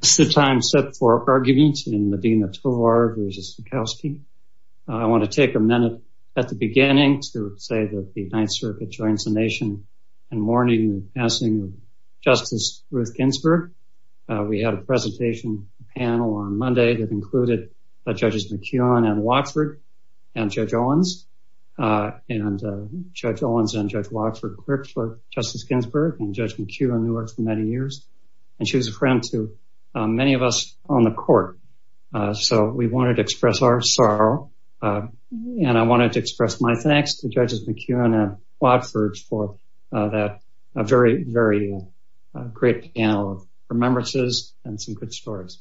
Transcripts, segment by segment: This is a time set for argument in Medina Tovar v. Zuchowski. I want to take a minute at the beginning to say that the Ninth Circuit joins the nation in mourning the passing of Justice Ruth Ginsburg. We had a presentation panel on Monday that included Judges McKeon and Watford and Judge Owens and Judge Owens and Judge Watford clerked for Justice Ginsburg and Judge McKeon who worked many years and she was a friend to many of us on the court. So we wanted to express our sorrow and I wanted to express my thanks to Judges McKeon and Watford for that very, very great panel of remembrances and some good stories.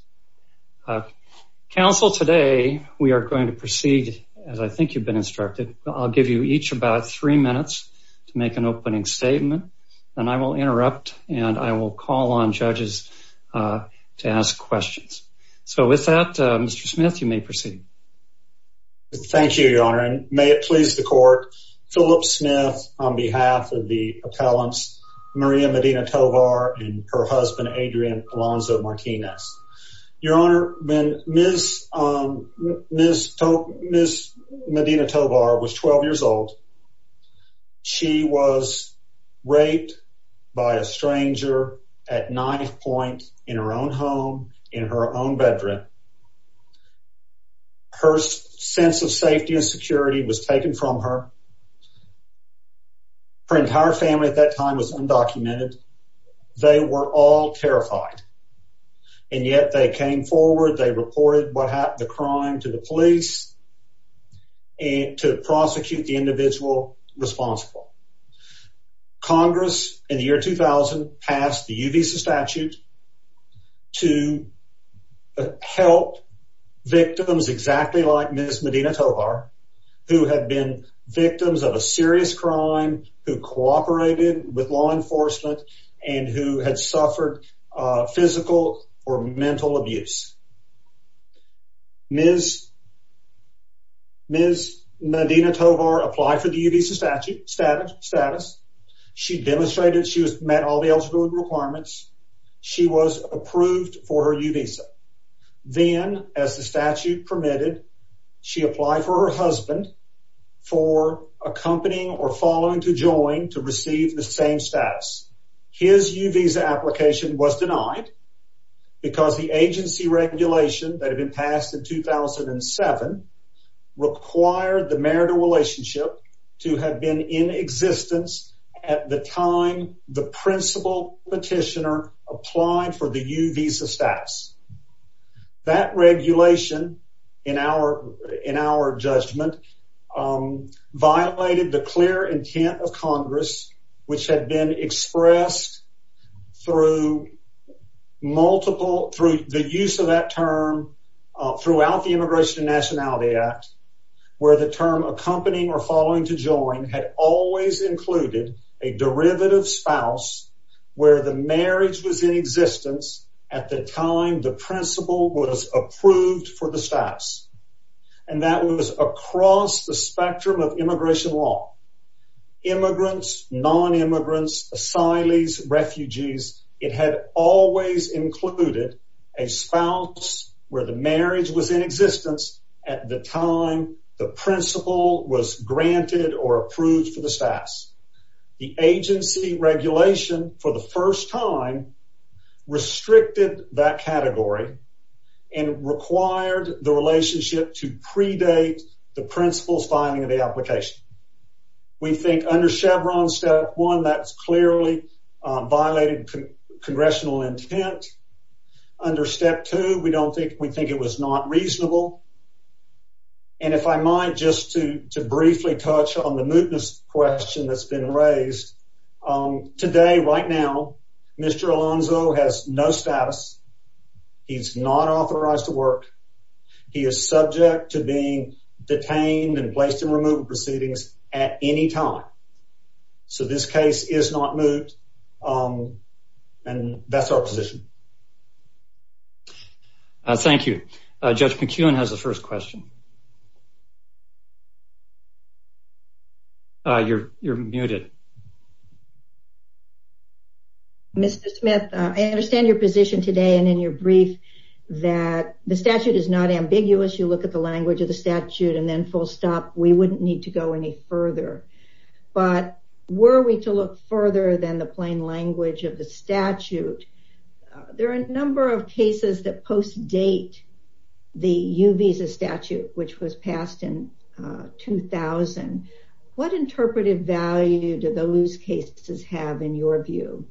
Council, today we are going to proceed as I think you've been instructed. I'll give you each about three minutes to make an opening statement and I will interrupt and I will call on judges to ask questions. So with that, Mr. Smith, you may proceed. Thank you, Your Honor, and may it please the court, Philip Smith on behalf of the appellants Maria Medina Tovar and her husband Adrian Alonzo Martinez. Your Honor, when Ms. Medina Tovar was 12 years old, she was raped by a stranger at 9th point in her own home in her own bedroom. Her sense of safety and security was taken from her. Her entire family at that time was undocumented. They were all terrified and yet they came forward. They reported the crime to the police and to prosecute the individual responsible. Congress, in the year 2000, passed the U visa statute to help victims exactly like Ms. Medina Tovar, who had been victims of a serious crime, who cooperated with law enforcement and who had been victims of a serious crime. Ms. Medina Tovar applied for the U visa status. She demonstrated she met all the eligibility requirements. She was approved for her U visa. Then, as the statute permitted, she applied for her husband for accompanying or following to join to receive the same status. His U visa application was denied because the agency regulation that had been passed in 2007 required the marital relationship to have been in existence at the time the principal petitioner applied for the U visa status. That regulation, in our judgment, violated the clear intent of Congress, which had been expressed through the use of that term throughout the Immigration and Nationality Act, where the term accompanying or following to join had always included a derivative spouse where the marriage was in existence at the time the principal was approved for the status. And that was across the spectrum of immigration law. Immigrants, non-immigrants, asylees, refugees, it had always included a spouse where the marriage was in existence at the time the principal was granted or approved for the status. The agency regulation, for the first time, restricted that category and required the relationship to predate the principal's finding of the application. We think under Chevron step one, that's clearly violated congressional intent. Under step two, we don't think, we think it was not reasonable. And if I might just to briefly touch on the mootness question that's been raised, today, right now, Mr. Alonzo has no status. He's not authorized to work. He is subject to being detained and placed in removal proceedings at any time. So this case is not moot. And that's our position. Thank you. Judge McEwen has the first question. You're muted. Mr. Smith, I understand your position today and in your brief that the statute is not ambiguous. You look at the language of the statute and then full stop. We wouldn't need to go any further. But were we to look further than the plain language of the statute, there are a number of cases that post-date the U visa statute, which was passed in 2000. What interpretive value do those cases have in your view?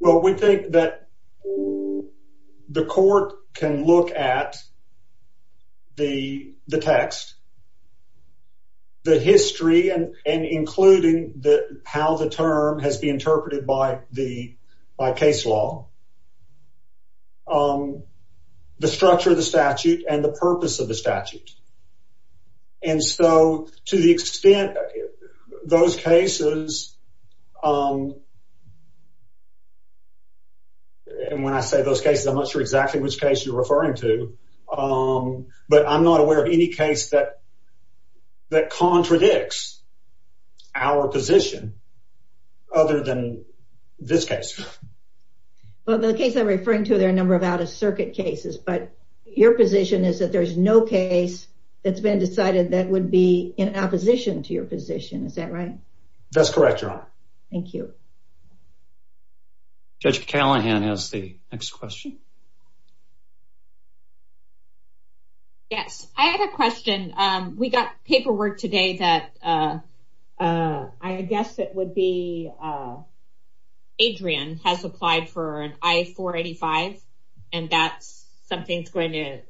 Well, we think that the court can look at the text, the history and including how the term has been interpreted by case law, the structure of the statute, and the purpose of the statute. And so to the extent those cases, and when I say those cases, I'm not sure exactly which case you're referring to, but I'm not aware of any case that contradicts our position other than this case. Well, the case I'm referring to, there are a number of out of circuit cases, but your position is that there's no case that's been decided that would be in opposition to your position. Is that right? That's correct, Your Honor. Thank you. Judge Callahan has the next question. Yes, I have a question. We got paperwork today that I guess it would be Adrian has applied for an I-485 and that's something that's going to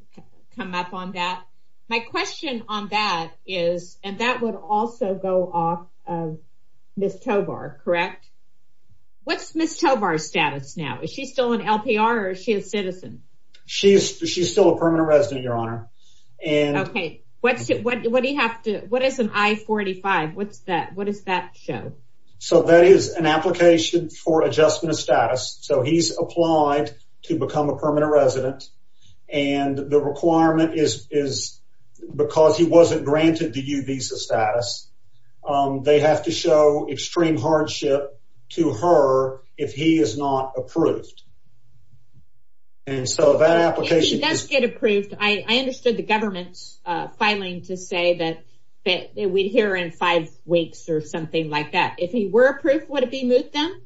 come up on that. My question on that is, and that would also go off of Ms. Tobar, correct? What's Ms. Tobar's status now? Is she still an LPR or is she a citizen? She's still a permanent resident, Your Honor. Okay. What is an I-485? What does that show? So that is an application for adjustment of status. So he's applied to become a permanent resident and the requirement is because he wasn't granted the U visa status, they have to show extreme hardship to her if he is not approved. And so that application... If he does get approved, I understood the government filing to say that we'd hear in five weeks or something like that. If he were approved, would it be moot then?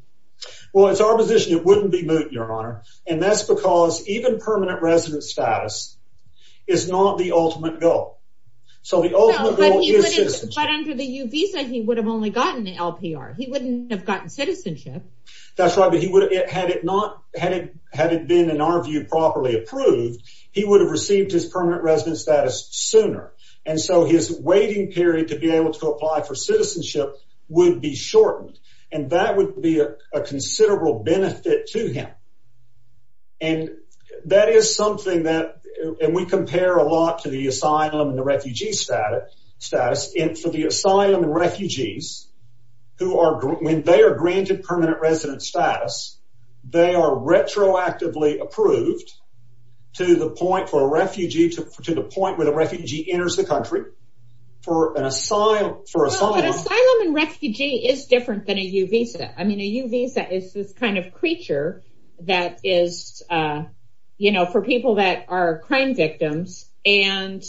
Well, it's our position it wouldn't be moot, Your Honor. And that's because even permanent resident status is not the ultimate goal. So the ultimate goal is citizenship. But under the U visa, he would have only gotten the LPR. He wouldn't have gotten citizenship. That's right. But had it been, in our view, properly approved, he would have received his permanent resident status sooner. And so his waiting period to be able to apply for citizenship would be shortened. And that would be a considerable benefit to him. And that is something that... And we compare a lot to the asylum and the refugee status. And for the asylum and refugees, when they are granted permanent resident status, they are retroactively approved to the point where the refugee enters the country for asylum. But asylum and refugee is different than a U visa. I mean, a U visa is this kind of creature that is for people that are crime victims. And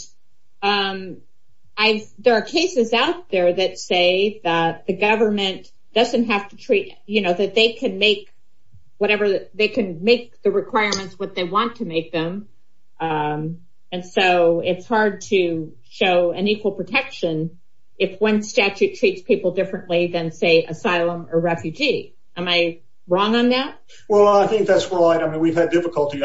there are cases out there that say that the government doesn't have to treat... That they can make the requirements what they want to make them. And so it's hard to show an equal protection if one statute treats people differently than, say, asylum or refugee. Am I wrong on that? Well, I think that's right. I mean, we've had difficulty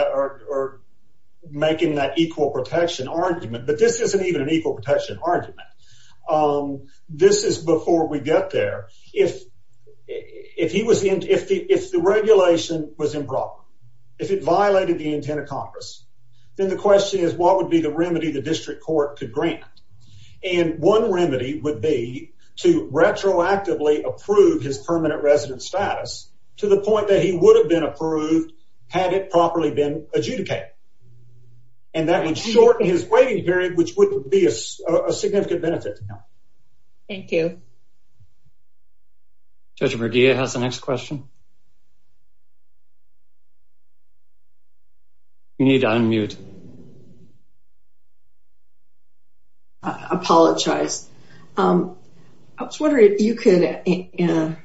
making that equal protection argument. But this isn't even an equal protection argument. This is before we get there. If the regulation was improper, if it violated the Tenet of Congress, then the question is, what would be the remedy the district court could grant? And one remedy would be to retroactively approve his permanent resident status to the point that he would have been approved had it properly been adjudicated. And that would shorten his waiting period, which would be a significant benefit to him. Thank you. Judge Mardia has the next question. You need to unmute. I apologize. I was wondering if you could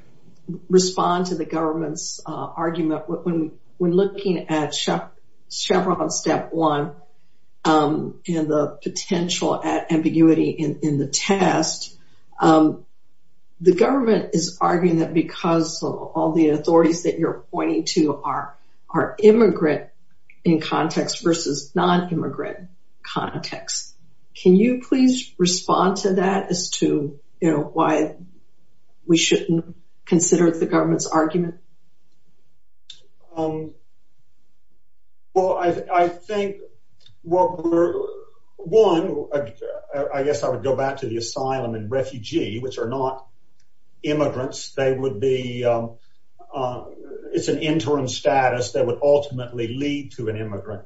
respond to the government's argument when looking at Chevron Step 1 and the potential ambiguity in the test. The government is arguing that because all the authorities that you're pointing to are immigrant in context versus non-immigrant context. Can you please respond to that as to why we shouldn't consider the government's argument? Well, I think, well, one, I guess I would go back to the asylum and refugee, which are not lead to an immigrant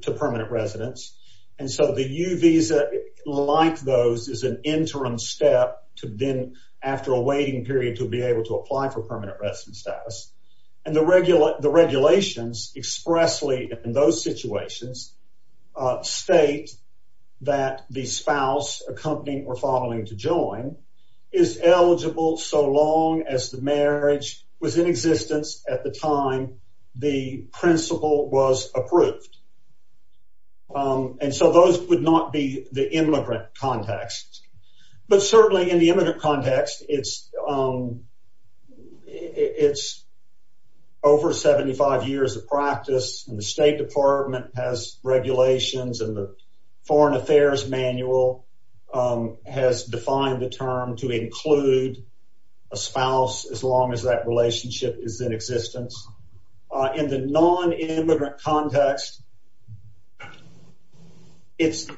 to permanent residence. And so the U visa, like those, is an interim step to then, after a waiting period, to be able to apply for permanent residence status. And the regulations expressly in those situations state that the spouse accompanying or following to join is eligible so long as the marriage was in existence at the time the principle was approved. And so those would not be the immigrant context. But certainly in the immigrant context, it's over 75 years of practice and the State Department has regulations and the term to include a spouse as long as that relationship is in existence. In the non-immigrant context, it's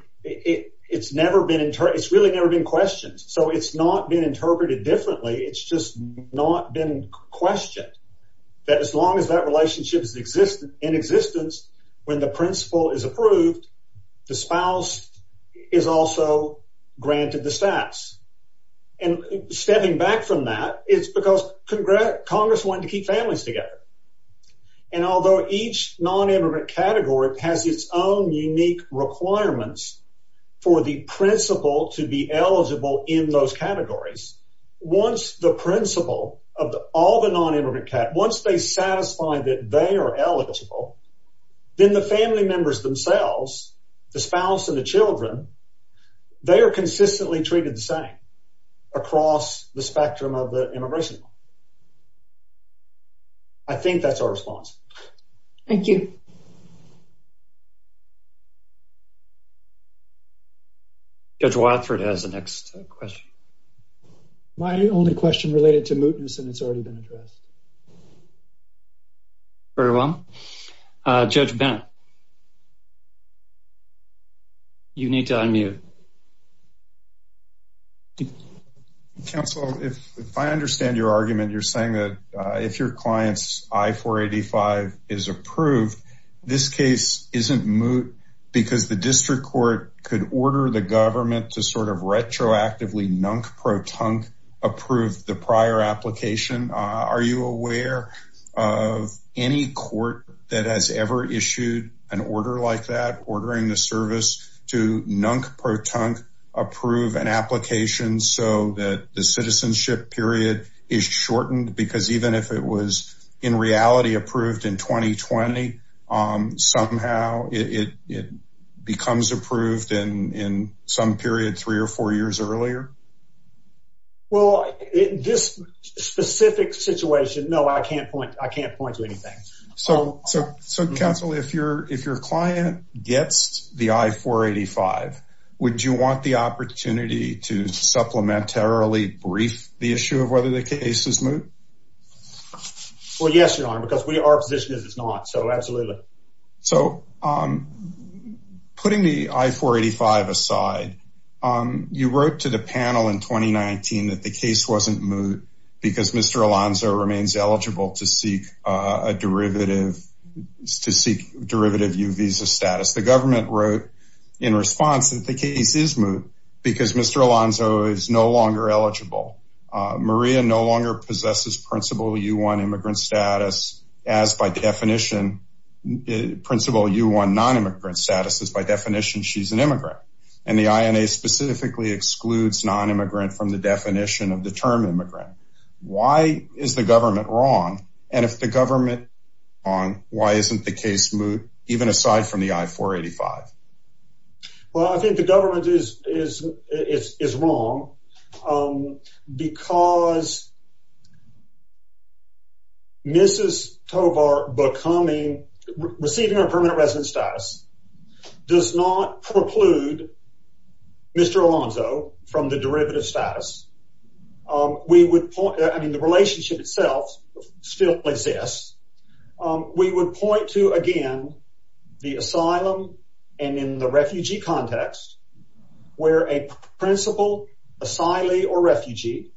never been, it's really never been questioned. So it's not been interpreted differently. It's just not been questioned that as long as that relationship is in existence, when the principle is approved, the spouse is also granted the status. And stepping back from that, it's because Congress wanted to keep families together. And although each non-immigrant category has its own unique requirements for the principle to be eligible in those categories, once the principle of all the non-immigrant, once they satisfy that they are eligible, then the family members themselves, the spouse and the children, they are consistently treated the same across the spectrum of the immigration. I think that's our response. Thank you. Judge Watford has the next question. My only question related to mootness and it's already been addressed. Very well. Judge Bennett, you need to unmute. Counsel, if I understand your argument, you're saying that if your client's I-485 is approved, this case isn't moot because the district court could order the government to sort of retroactively nunk pro-tunk approve the prior application. Are you aware of any court that has ever issued an order like that, ordering the service to nunk pro-tunk approve an application so that the citizenship period is shortened? Because even if it was in reality approved in 2020, somehow it becomes approved in some period three or four years earlier? Well, this specific situation, no, I can't point to anything. So, counsel, if your client gets the I-485, would you want the opportunity to supplementarily brief the issue of whether the case is moot? Well, yes, Your Honor, because our position is it's not. Absolutely. So, putting the I-485 aside, you wrote to the panel in 2019 that the case wasn't moot because Mr. Alonzo remains eligible to seek derivative U visa status. The government wrote in response that the case is moot because Mr. Alonzo is no longer eligible. Maria no longer possesses principal U1 immigrant status as by definition, principal U1 non-immigrant status as by definition she's an immigrant. And the INA specifically excludes non-immigrant from the definition of the term immigrant. Why is the government wrong? And if the government is wrong, why isn't the case moot, even aside from the I-485? Well, I think the government is wrong because Mrs. Tovar receiving her permanent resident status does not preclude Mr. Alonzo from the derivative status. The relationship itself still exists. We would point to, again, the asylum and in the refugee context, where a principal asylee or refugee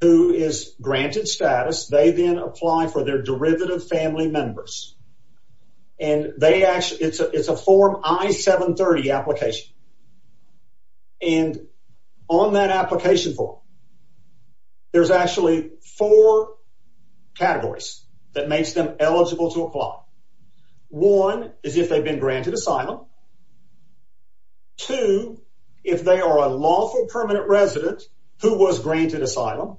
who is granted status, they then apply for their derivative family members. And they actually, it's a form I-730 application. And on that application form, there's actually four categories that makes them eligible to apply. One is if they've been granted asylum. Two, if they are a lawful permanent resident who was granted asylum.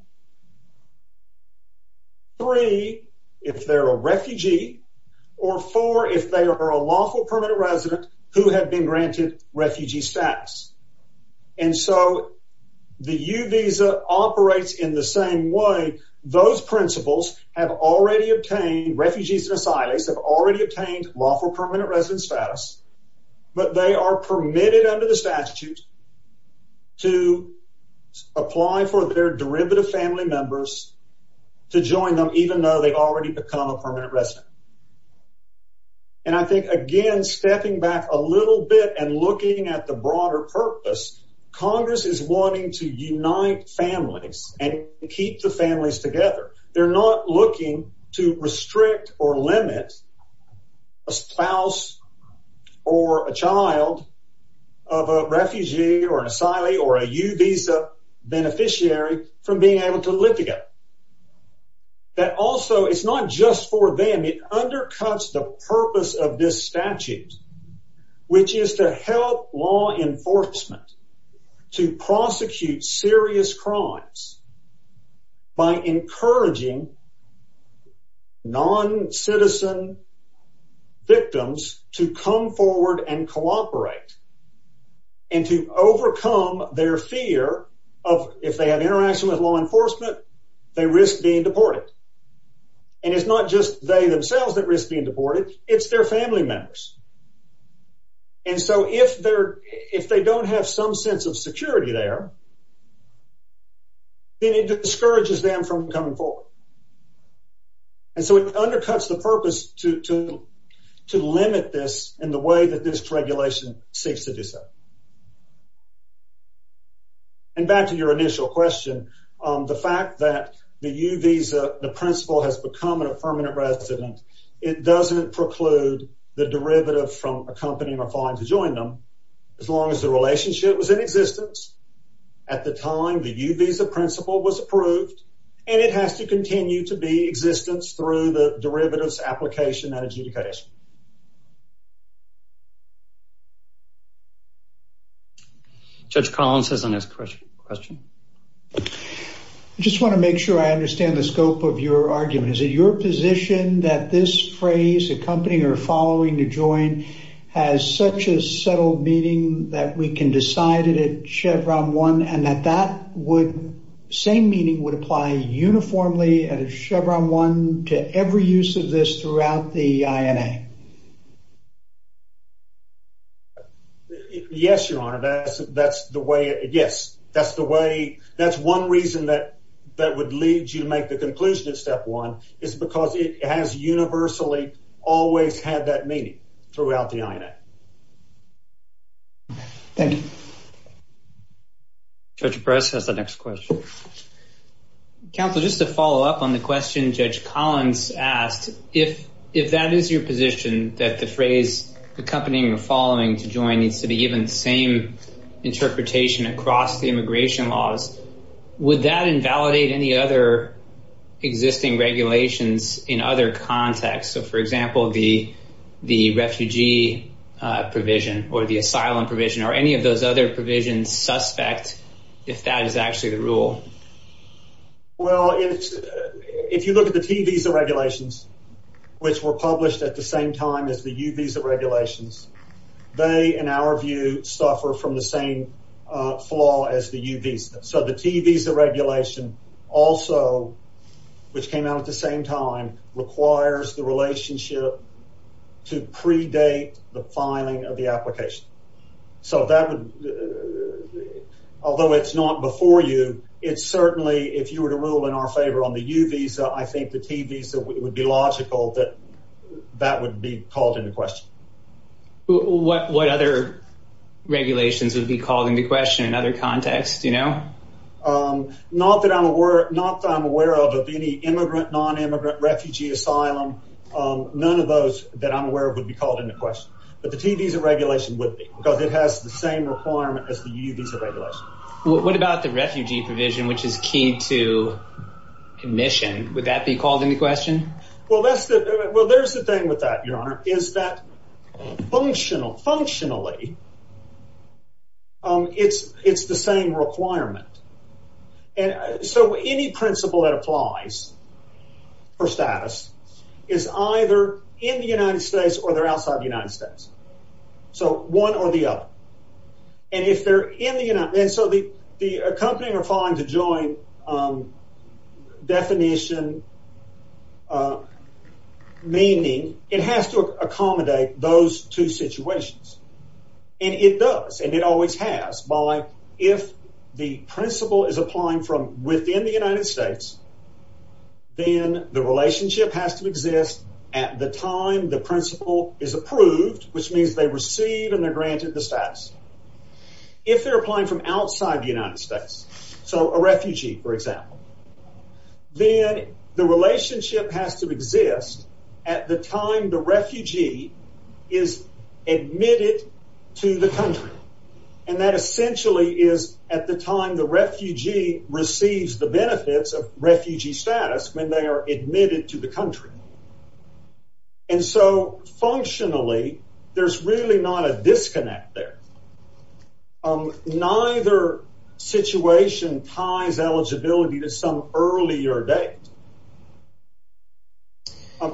Three, if they're a refugee. Or four, if they are a lawful permanent resident who had been granted refugee status. And so the U visa operates in the same way. Those principals have already obtained, refugees and asylees have already obtained lawful permanent resident status, but they are permitted under the statute to apply for their derivative family members to join them, even though they've already become a permanent resident. And I think, again, stepping back a little bit and looking at the broader purpose, Congress is wanting to unite families and keep the families together. They're not looking to restrict or limit a spouse or a child of a refugee or an asylee or a U visa beneficiary from being able to live together. That also, it's not just for them. It undercuts the purpose of this statute, which is to help law enforcement to prosecute serious crimes by encouraging non-citizen victims to come forward and cooperate and to overcome their fear of, if they have interaction with law enforcement, they risk being deported. And it's not just they themselves that risk being deported, it's their family members. And so if they don't have some sense of security there, then it discourages them from coming forward. And so it undercuts the purpose to limit this in the way that this regulation seeks to do so. And back to your initial question, the fact that the U visa, the principle has become an affirmative resident, it doesn't preclude the derivative from accompanying or filing to join them as long as the relationship was in existence. At the time, the U visa principle was approved and it has to continue to be existence through the derivatives application and adjudication. Judge Collins has the next question. I just want to make sure I understand the scope of your argument. Is it your position that this phrase accompanying or following to join has such a settled meaning that we can decide it at Chevron 1 and that same meaning would apply uniformly at Chevron 1 to every use of this throughout the I. N. A. Yes, your honor. That's that's the way. Yes, that's the way. That's one reason that that would lead you to make the conclusion that step one is because it has universally always had that meaning throughout the I. N. A. Thank you. Judge Press has the next question. Counselor, just to follow up on the question Judge Collins asked, if that is your position that the phrase accompanying or following to join needs to be given the same interpretation across the immigration laws, would that invalidate any other existing regulations in other contexts? So, for example, the refugee provision or the asylum provision or any of those other provisions suspect if that is actually the rule? Well, if you look at the T visa regulations, which were published at the same time as the U visa regulations, they, in our view, suffer from the same flaw as the U visa. So the T visa regulation also, which came out at the same time, requires the relationship to predate the filing of the application. So that would, although it's not before you, it's certainly if you were to rule in our favor on the U visa, I think the T visa would be logical that that would be called into question. What other regulations would be called into question in other contexts, you know? Not that I'm aware, not that I'm aware of any immigrant, non-immigrant refugee asylum. None of those that I'm aware of would be called into question, but the T visa regulation would be because it has the same requirement as the U visa regulation. What about the refugee provision, which is key to commission, would that be called into question? Well, that's the, well, there's the thing with that, your honor, is that functional, functionally, it's the same requirement. And so any principle that applies for status is either in the United States or they're outside the United States. So one or the other. And if they're in the United, and so the accompanying or falling to join definition, meaning, it has to accommodate those two situations. And it does, and it always has, by if the principle is applying from within the United States, then the relationship has to exist at the time the principle is approved, which means they receive and they're granted the status. If they're applying from outside the United States, so a refugee, for example, then the relationship has to exist at the time the refugee is admitted to the country. And that essentially is at the time the refugee receives the benefits of refugee status when they are admitted to the country. And so functionally, there's really not a disconnect there. Neither situation ties eligibility to some earlier date.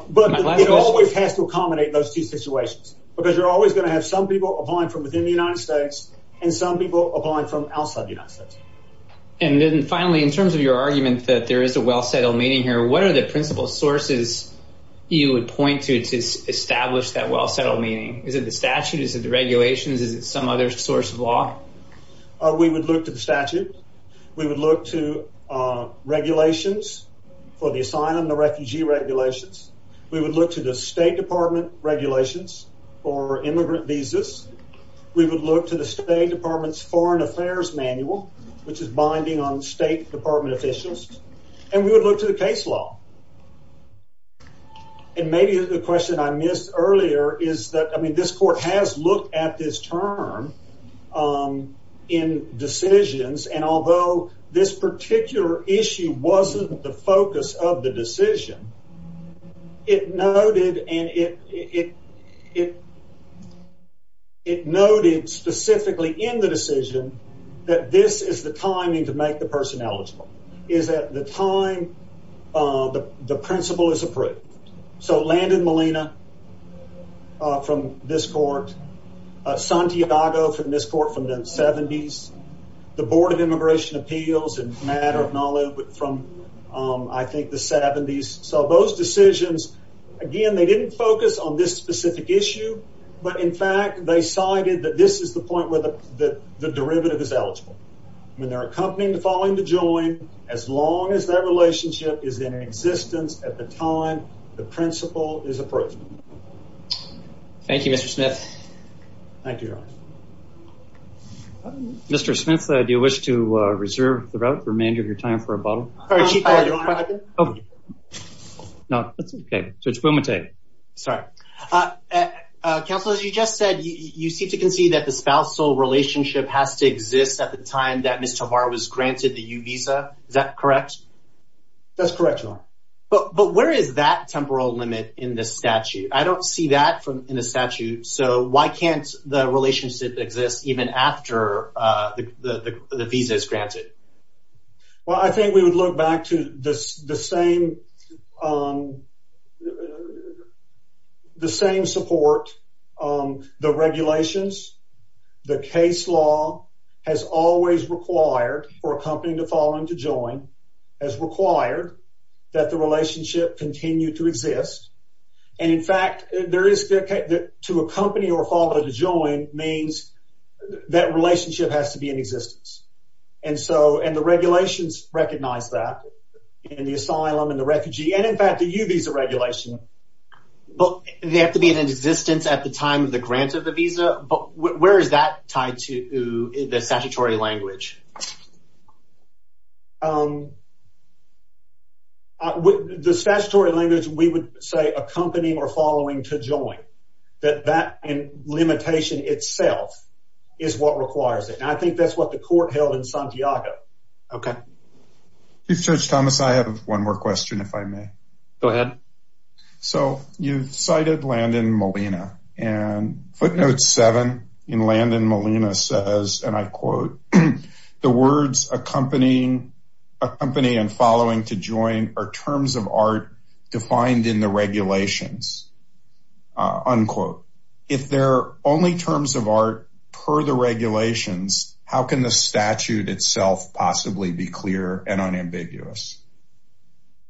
But it always has to accommodate those two situations, because you're always going to have some people applying from within the United States and some people applying from outside the country. And finally, in terms of your argument that there is a well-settled meaning here, what are the principal sources you would point to to establish that well-settled meaning? Is it the statute? Is it the regulations? Is it some other source of law? We would look to the statute. We would look to regulations for the asylum, the refugee regulations. We would look to the State Department regulations for immigrant visas. We would look to the State Department officials. And we would look to the case law. And maybe the question I missed earlier is that, I mean, this court has looked at this term in decisions, and although this particular issue wasn't the focus of the decision, it noted specifically in the decision that this is the timing to make the person eligible. Is that the time the principal is approved. So Landon Molina from this court, Santiago from this court from the 70s, the Board of Immigration Appeals and Matter of Knowledge from, I think, the 70s. So those decisions, again, they didn't focus on this specific issue, but in fact, they cited that this is the point where the derivative is eligible. When they're accompanying the falling to join, as long as that relationship is in existence at the time the principal is approved. Thank you, Mr. Smith. Thank you, Your Honor. Mr. Smith, do you wish to reserve the remainder of your time for a bottle? No, that's okay. Judge Bumate. Sorry. Counselors, you just said you seem to concede that the spousal relationship has to exist at the time that Ms. Tavar was granted the U visa. Is that correct? That's correct, Your Honor. But where is that temporal limit in the statute? I don't see that in the statute. So why can't the relationship exist even after the visa is granted? Well, I think we would look back to the same support, the regulations, the case law has always required for a company to fall into join, has required that the relationship continue to exist. And in fact, to accompany or follow to join means that relationship has to be in existence. And the regulations recognize that in the asylum and the refugee, and in fact, the U visa regulation. But they have to be in existence at the time of the grant of the visa, but where is that tied to the statutory language? With the statutory language, we would say a company or following to join that that in limitation itself is what requires it. And I think that's what the court held in Santiago. Okay. You search, Thomas. I have one more question. If I may go ahead. So you cited Landon Molina and note seven in Landon Molina says, and I quote, the words accompanying a company and following to join are terms of art defined in the regulations. Unquote. If they're only terms of art per the regulations, how can the statute itself possibly be clear and unambiguous?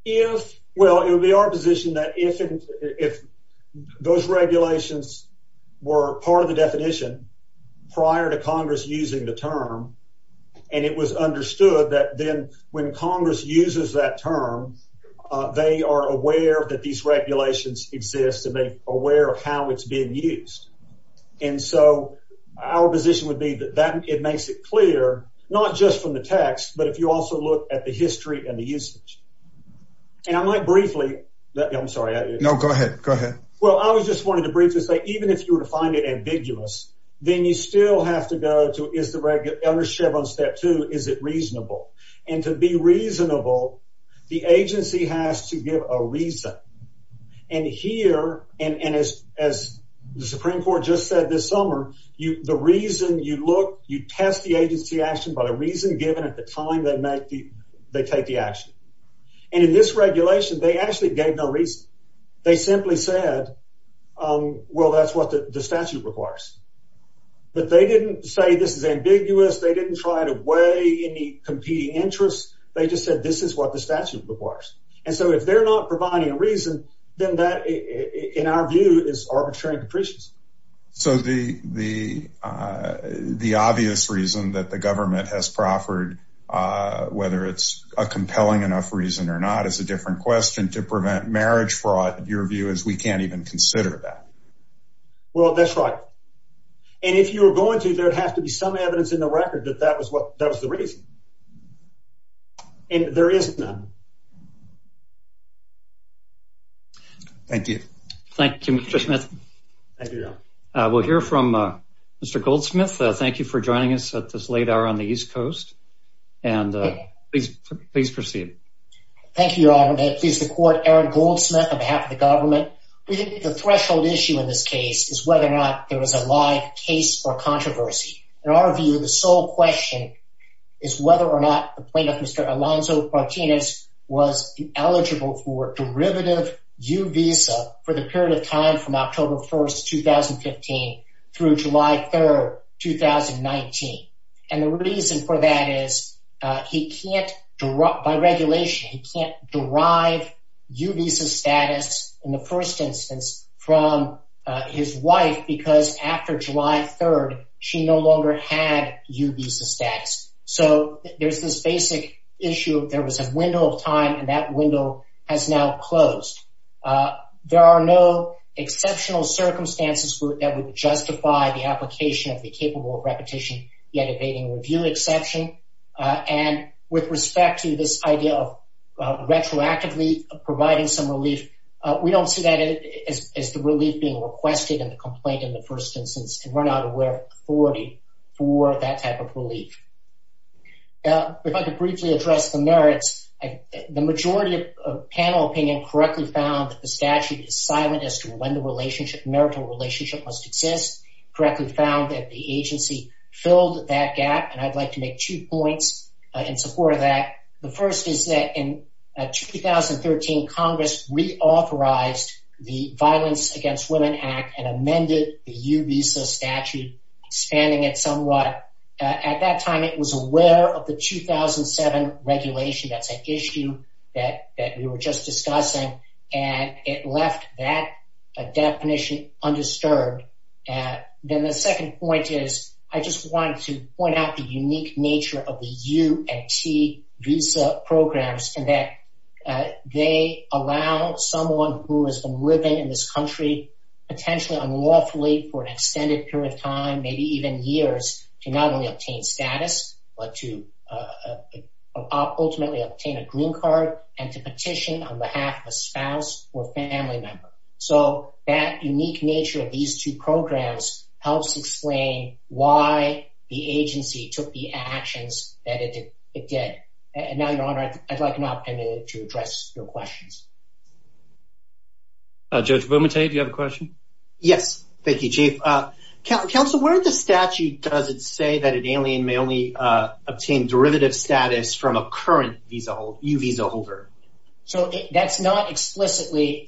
Yes. Well, it would be our position that if those regulations were part of the definition prior to Congress using the term, and it was understood that then when Congress uses that term, they are aware that these regulations exist and they aware of how it's being used. And so our position would be that that it makes it clear, not just from the text, but if you also look at the history and the usage. And I might briefly, I'm sorry. No, go ahead. Go ahead. Well, I was just wanting to briefly say, even if you were to find it ambiguous, then you still have to go to, is the regular under Chevron step two, is it reasonable? And to be reasonable, the agency has to give a reason. And here, and as the Supreme Court just said this summer, the reason you look, you test the agency action by the reason given at the time they make the, they take the action. And in this regulation, they actually gave no reason. They simply said, well, that's what the statute requires. But they didn't say this is ambiguous. They didn't try to weigh any competing interests. They just said, this is what the statute requires. And so if they're not providing a reason, then that in our view is arbitrary and capricious. So the, the, uh, the obvious reason that the government has proffered, uh, whether it's a compelling enough reason or not as a different question to prevent marriage fraud, your view is we can't even consider that. Well, that's right. And if you were going to, there'd have to be some evidence in the record that that was what that was the reason. And there is none. Thank you. Thank you, Mr. Smith. We'll hear from, uh, Mr. Goldsmith. Thank you for joining us at this late hour on the East Coast. And, uh, please, please proceed. Thank you, Your Honor. I'm pleased to court Aaron Goldsmith on behalf of the government. We think the threshold issue in this case is whether or not there was a live case or controversy. In our view, the sole question is whether or not the plaintiff, Mr. Alonzo Martinez, was eligible for derivative U visa for the period of time from October 1st, 2015 through July 3rd, 2019. And the reason for that is, uh, he can't, by regulation, he can't derive U visa status in the first instance from, uh, his wife because after July 3rd, she no longer had U visa status. So there's this basic issue of there was a window of time and that window has now closed. Uh, there are no exceptional circumstances that would justify the application of the capable of repetition yet evading review exception. Uh, and with respect to this idea of, uh, retroactively providing some relief, uh, we don't see that as the relief being requested in the first instance and we're not aware of authority for that type of relief. Uh, if I could briefly address the merits, the majority of panel opinion correctly found that the statute is silent as to when the relationship, marital relationship must exist, correctly found that the agency filled that gap. And I'd like to make two points in support of that. The first is in 2013, Congress reauthorized the violence against women act and amended the U visa statute, spanning it somewhat. Uh, at that time it was aware of the 2007 regulation. That's an issue that, that we were just discussing and it left that definition undisturbed. Uh, then the second point is I just wanted to point out the unique nature of the U and T visa programs and that, uh, they allow someone who has been living in this country potentially unlawfully for an extended period of time, maybe even years to not only obtain status, but to, uh, ultimately obtain a green card and to petition on behalf of a spouse or family member. So that unique nature of these two programs helps explain why the agency took the actions that it did. And now Your Honor, I'd like an opportunity to address your questions. Uh, Judge Vomittee, do you have a question? Yes. Thank you, Chief. Uh, Council, where in the statute does it say that an alien may only, uh, obtain derivative status from a current visa holder, U visa holder? So that's not together,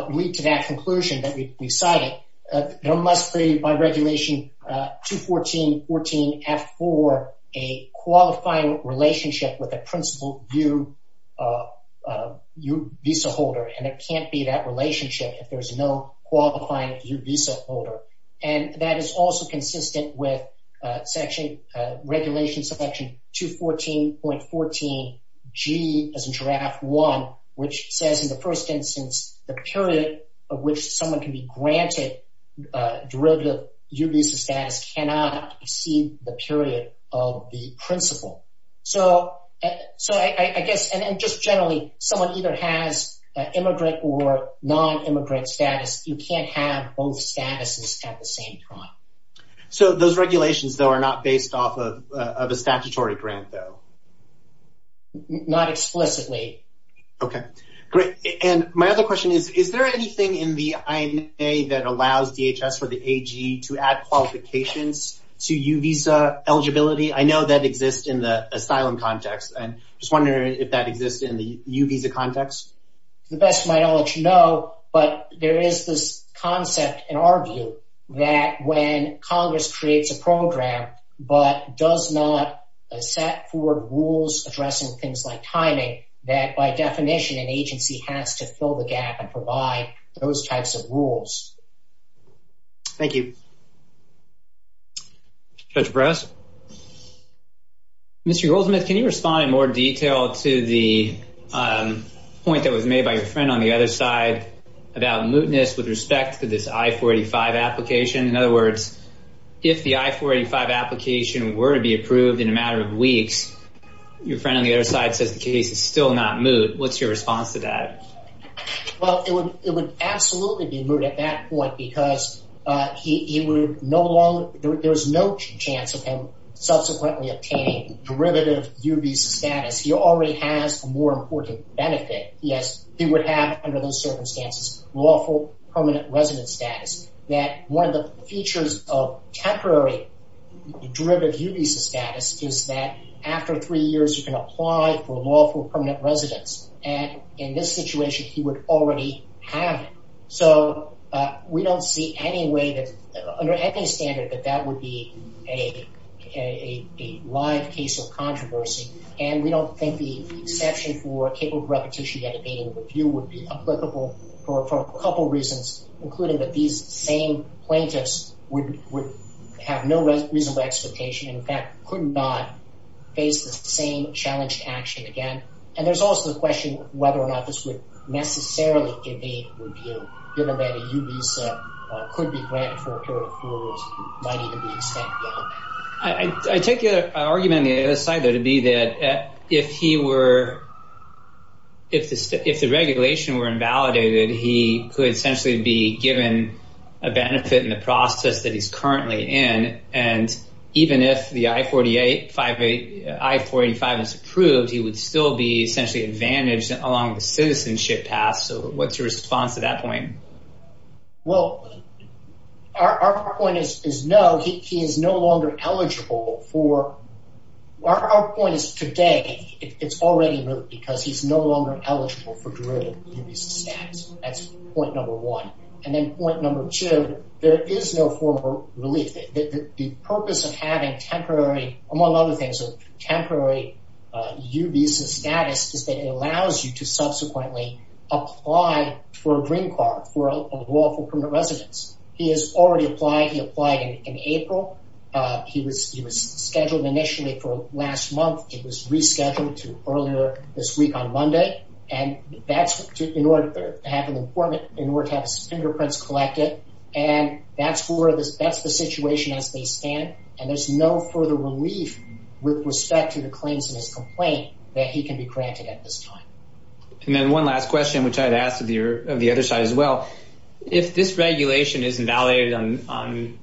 uh, lead to that conclusion that we, we cited. Uh, there must be by regulation, uh, 214.14 F4, a qualifying relationship with a principal U, uh, uh, U visa holder. And it can't be that relationship if there's no qualifying U visa holder. And that is also consistent with, uh, regulation section 214.14 G as in draft one, which says in the first instance, the period of which someone can be granted, uh, derivative U visa status cannot exceed the period of the principal. So, so I guess, and just generally someone either has an immigrant or non-immigrant status, you can't have both statuses at the same time. So those regulations though are not based off of, uh, of a statutory grant though. Not explicitly. Okay, great. And my other question is, is there anything in the INA that allows DHS for the AG to add qualifications to U visa eligibility? I know that exists in the asylum context. And I'm just wondering if that exists in the U visa context? The best of my knowledge, no, but there is this concept in our that when Congress creates a program, but does not set forward rules addressing things like timing that by definition and agency has to fill the gap and provide those types of rules. Thank you. Judge Brass. Mr. Goldsmith, can you respond in more detail to the, um, point that was made by In other words, if the I-485 application were to be approved in a matter of weeks, your friend on the other side says the case is still not moot. What's your response to that? Well, it would, it would absolutely be moot at that point because, uh, he, he would no longer, there was no chance of him subsequently obtaining derivative U visa status. He already has a more important benefit. Yes. He would have under those circumstances, lawful permanent residence status that one of the features of temporary derivative U visa status is that after three years, you can apply for lawful permanent residence. And in this situation, he would already have it. So, uh, we don't see any way that under any standard, that that would be a, a, a live case of controversy. And we don't think the exception for capable repetition at a meeting with you would be for a couple of reasons, including that these same plaintiffs would, would have no reasonable expectation and in fact, could not face the same challenge to action again. And there's also the question whether or not this would necessarily evade review given that a U visa could be granted for a period of four years, might even be extended. I, I, I take your argument on the other side there to be that if he were, if the, if the regulation were invalidated, he could essentially be given a benefit in the process that he's currently in. And even if the I-485 is approved, he would still be essentially advantaged along the citizenship path. So what's your response to that Well, our, our point is, is no, he, he is no longer eligible for, our, our point is today, it's already moved because he's no longer eligible for derivative U visa status. That's point number one. And then point number two, there is no formal relief. The purpose of having temporary, among other things, a temporary U visa status is that it allows you to subsequently apply for a green card for a lawful permanent residence. He has already applied. He applied in April. He was, he was scheduled initially for last month. It was rescheduled to earlier this week on Monday. And that's in order to have an appointment in order to have his fingerprints collected. And that's where this, that's the situation as they stand. And there's no further relief with respect to the claims in his complaint that he can be granted at this time. And then one last question, which I'd asked of your, of the other side as well. If this regulation is invalidated on,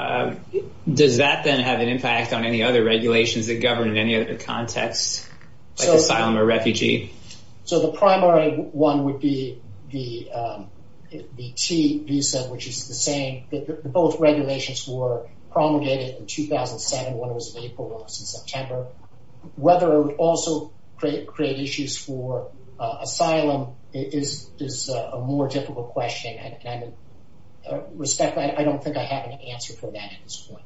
on, does that then have an impact on any other regulations that govern in any other context, like asylum or refugee? So the primary one would be the, the T visa, which is the same, both regulations were promulgated in 2007, when it was in April, it was in September. Whether it would also create issues for asylum is, is a more difficult question. And I respect, I don't think I have an answer for that at this point.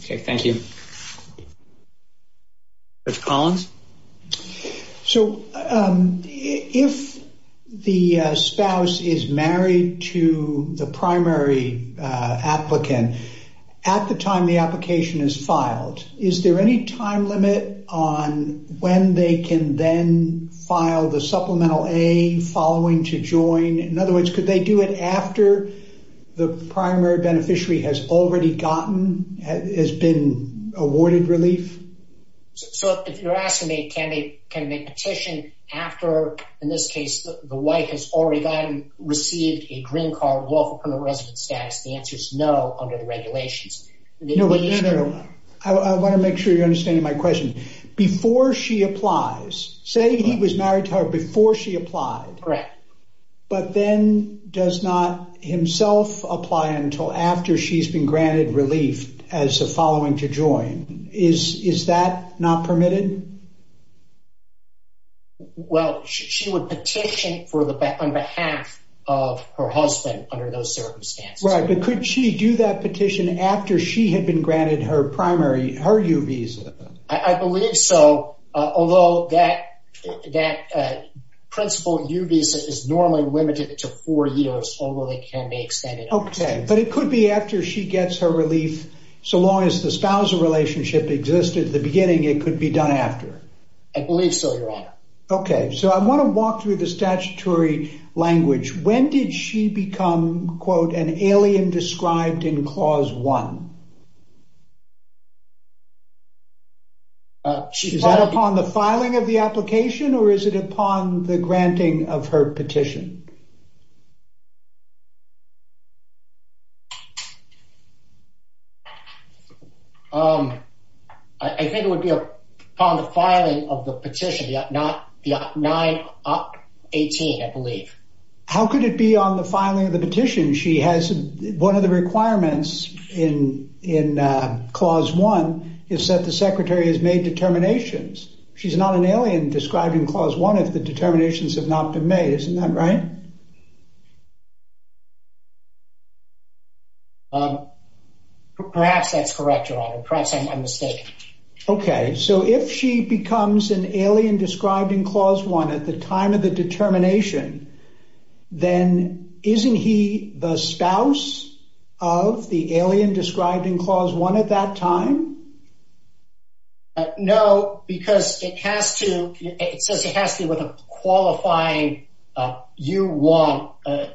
Okay. Thank you. Judge Collins. So if the spouse is married to the primary applicant, at the time the application is filed, is there any time limit on when they can then file the Supplemental A following to join? In other words, could they do it after the primary beneficiary has already gotten, has been awarded relief? So if you're asking me, can they, can they petition after, in this case, the wife has already gotten, received a green card, lawful permanent residence status, the answer is no under the regulations. I want to make sure you're understanding my question. Before she applies, say he was married to her before she applied. Correct. But then does not himself apply until after she's been granted relief as a following to join. Is, is that not permitted? Well, she would petition for the, on behalf of her husband under those circumstances. Right. But could she do that petition after she had been granted her primary, her U visa? I believe so. Although that, that principal U visa is normally limited to four years, although they can be extended. Okay. But it could be after she gets her relief. So long as the spousal relationship existed at the beginning, it could be done after. I believe so, Your Honor. Okay. So I want to walk through the statutory language. When did she become, quote, an alien described in clause one? Uh, is that upon the filing of the application or is it upon the granting of her petition? Um, I think it would be upon the filing of the petition, not the 918, I believe. How could it be on the filing of the petition? She has one of the requirements in, in, uh, is that the secretary has made determinations. She's not an alien described in clause one if the determinations have not been made. Isn't that right? Um, perhaps that's correct, Your Honor. Perhaps I'm, I'm mistaken. Okay. So if she becomes an alien described in clause one at the time of the determination, then isn't he the spouse of the alien described in clause one at that time? No, because it has to, it says it has to be with a qualifying, uh, you want, uh,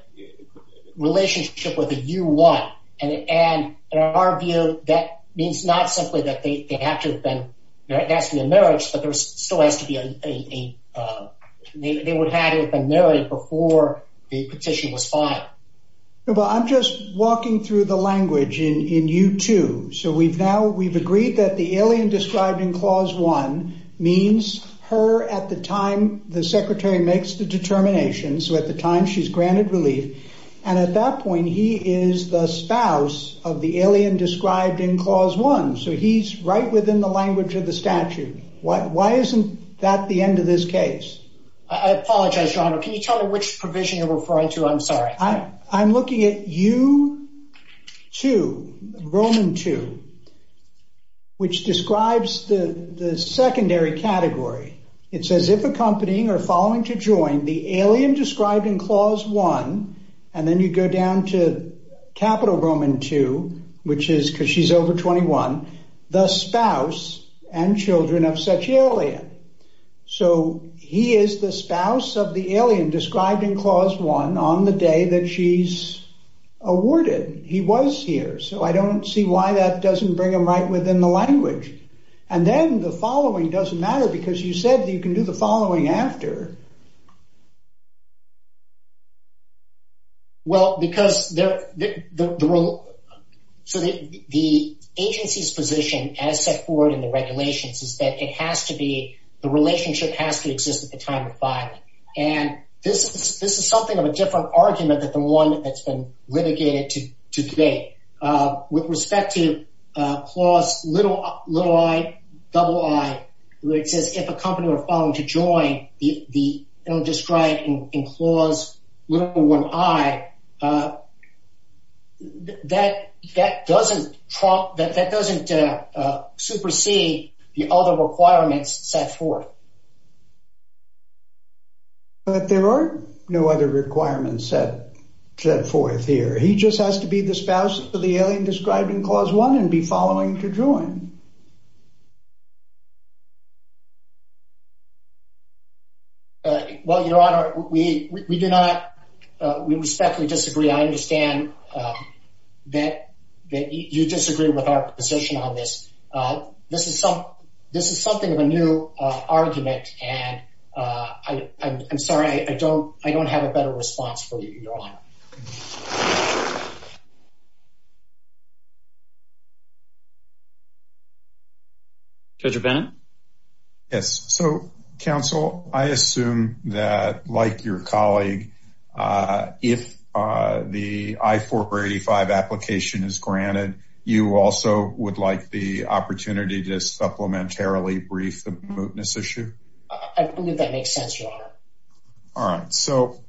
relationship with a you want. And, and in our view, that means not simply that they have to have been, you know, it has to be a marriage, but there still has to be a, a, uh, they would have been married before the petition was filed. Well, I'm just walking through the language in, in U2. So we've now, we've agreed that the alien described in clause one means her at the time the secretary makes the determination. So at the time she's granted relief. And at that point, he is the spouse of the alien described in clause one. So he's right within the language of the statute. Why, why isn't that the end of this case? I apologize, John. Can you tell me which provision you're referring to? I'm sorry. I'm looking at U2, Roman two, which describes the secondary category. It says if accompanying or following to join the alien described in clause one, and then you go down to capital Roman two, which is cause she's over 21, the spouse and children of such alien. So he is the spouse of the alien described in clause one on the day that she's awarded. He was here. So I don't see why that doesn't bring them right within the language. And then the following doesn't matter because you said that you can do the following after. Well, because they're the role. So the agency's position as set forward in the regulations is that it has to be the relationship has to exist at the time of filing. And this is this is something of a different argument that the one that's been litigated to today with respect to clause little, little I double I, which is if a company were falling to join the set forth. But there are no other requirements set forth here. He just has to be the spouse of the alien described in clause one and be following to join. Well, Your Honor, we do not. We respectfully disagree. I understand that you disagree with our position on this. This is something of a new argument. And I'm sorry, I don't have a better response for you, Your Honor. Judge O'Bannon? Yes. So, counsel, I assume that like your colleague, if the I-485 application is granted, you also would like the opportunity to supplementarily brief the mootness issue? I believe that makes sense, Your Honor. All right. So,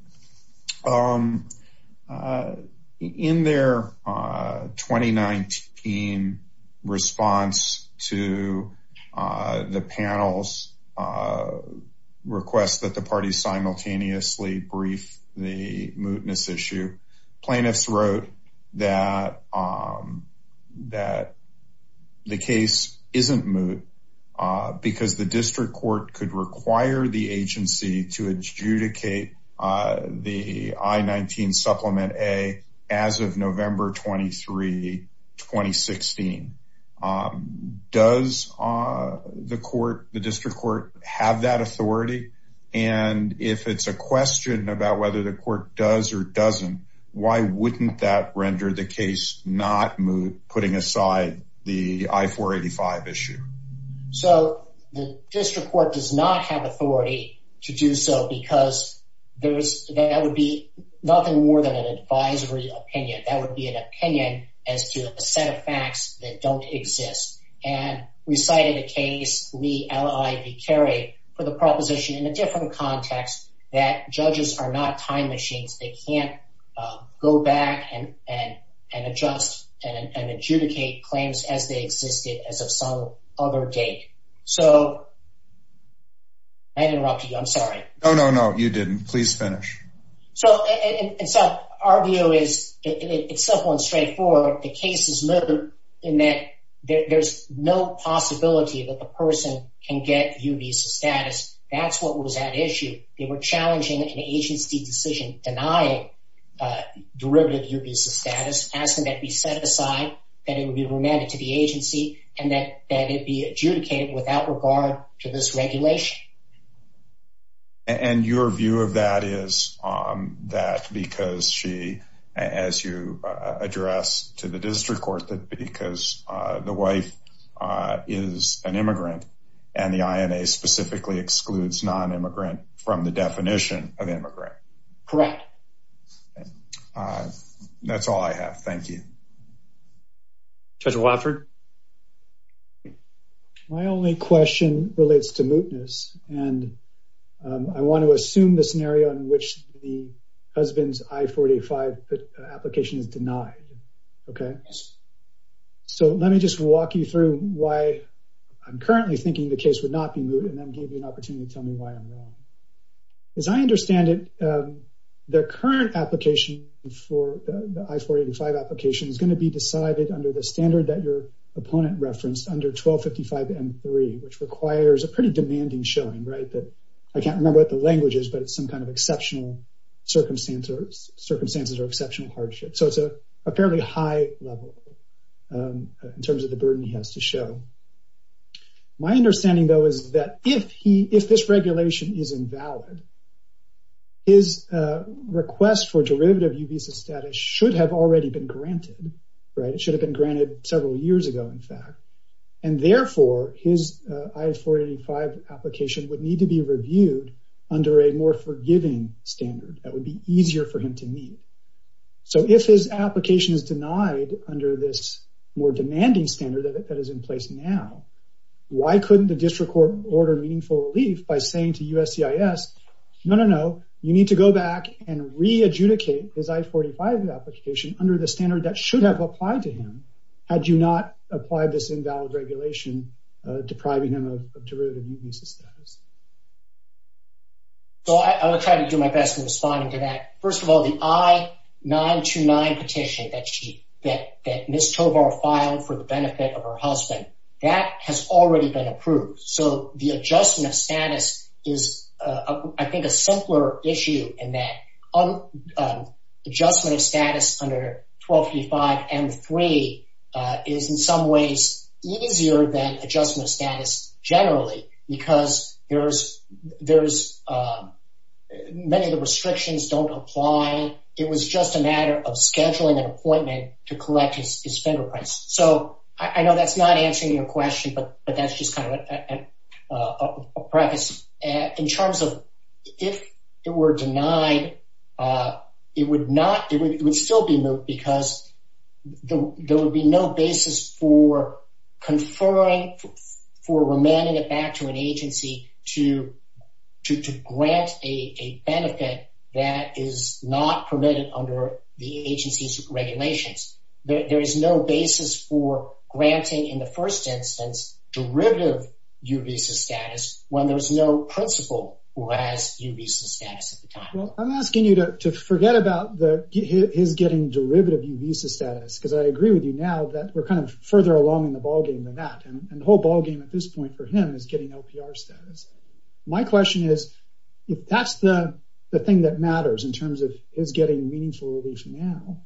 in their 2019 response to the panel's request that the party simultaneously brief the mootness issue, plaintiffs wrote that the case isn't moot because the district court could require the agency to adjudicate the I-19 Supplement A as of November 23, 2016. Does the court, the district court, have that authority? And if it's a question about whether the court does or doesn't, why wouldn't that render the case not moot, putting aside the I-485 issue? So, the district court does not have authority to do so because that would be nothing more than an advisory opinion. That would be an opinion as to a set of facts that don't exist. And we cited a case, Lee L.I. v. Carey, for the proposition in a different context, that judges are not time machines. They can't go back and adjust and adjudicate claims as they other date. So, did I interrupt you? I'm sorry. No, no, no. You didn't. Please finish. So, our view is it's simple and straightforward. The case is moot in that there's no possibility that the person can get UBESA status. That's what was at issue. They were challenging an agency decision denying derivative UBESA status, asking that it be set aside, that it would be remanded to the agency, and that it be adjudicated without regard to this regulation. And your view of that is that because she, as you address to the district court, that because the wife is an immigrant and the INA specifically excludes non-immigrant from the definition of UBESA. Judge Wofford? My only question relates to mootness, and I want to assume the scenario in which the husband's I-485 application is denied, okay? So, let me just walk you through why I'm currently thinking the case would not be moot, and then give you an opportunity to tell me why I'm wrong. As I understand it, the current application for the I-485 application is going to be decided under the standard that your opponent referenced under 1255M3, which requires a pretty demanding showing, right? I can't remember what the language is, but it's some kind of exceptional circumstances or exceptional hardship. So, it's a fairly high level in terms of the burden he has to show. My understanding, though, is that if this regulation is invalid, his request for derivative UBESA status should have already been granted, right? It should have been granted several years ago, in fact. And therefore, his I-485 application would need to be reviewed under a more forgiving standard that would be easier for him to meet. So, if his application is denied under this more demanding standard that is in place now, why couldn't the No, no, no. You need to go back and re-adjudicate his I-485 application under the standard that should have applied to him, had you not applied this invalid regulation depriving him of derivative UBESA status. So, I will try to do my best in responding to that. First of all, the I-929 petition that Ms. Tovar filed for the benefit of her husband, that has already been approved. So, the adjustment of status is, I think, a simpler issue in that adjustment of status under I-1235 M-3 is in some ways easier than adjustment of status generally, because there's many of the restrictions don't apply. It was just a matter of scheduling an appointment to collect his UBESA status. In terms of, if it were denied, it would still be moved because there would be no basis for confirming, for remanding it back to an agency to grant a benefit that is not permitted under the agency's regulations. There is no basis for granting, in the first instance, derivative UBESA status when there's no principal who has UBESA status at the time. Well, I'm asking you to forget about his getting derivative UBESA status, because I agree with you now that we're kind of further along in the ballgame than that, and the whole ballgame at this point for him is getting LPR status. My question is, if that's the thing that matters in terms of his getting meaningful relief now,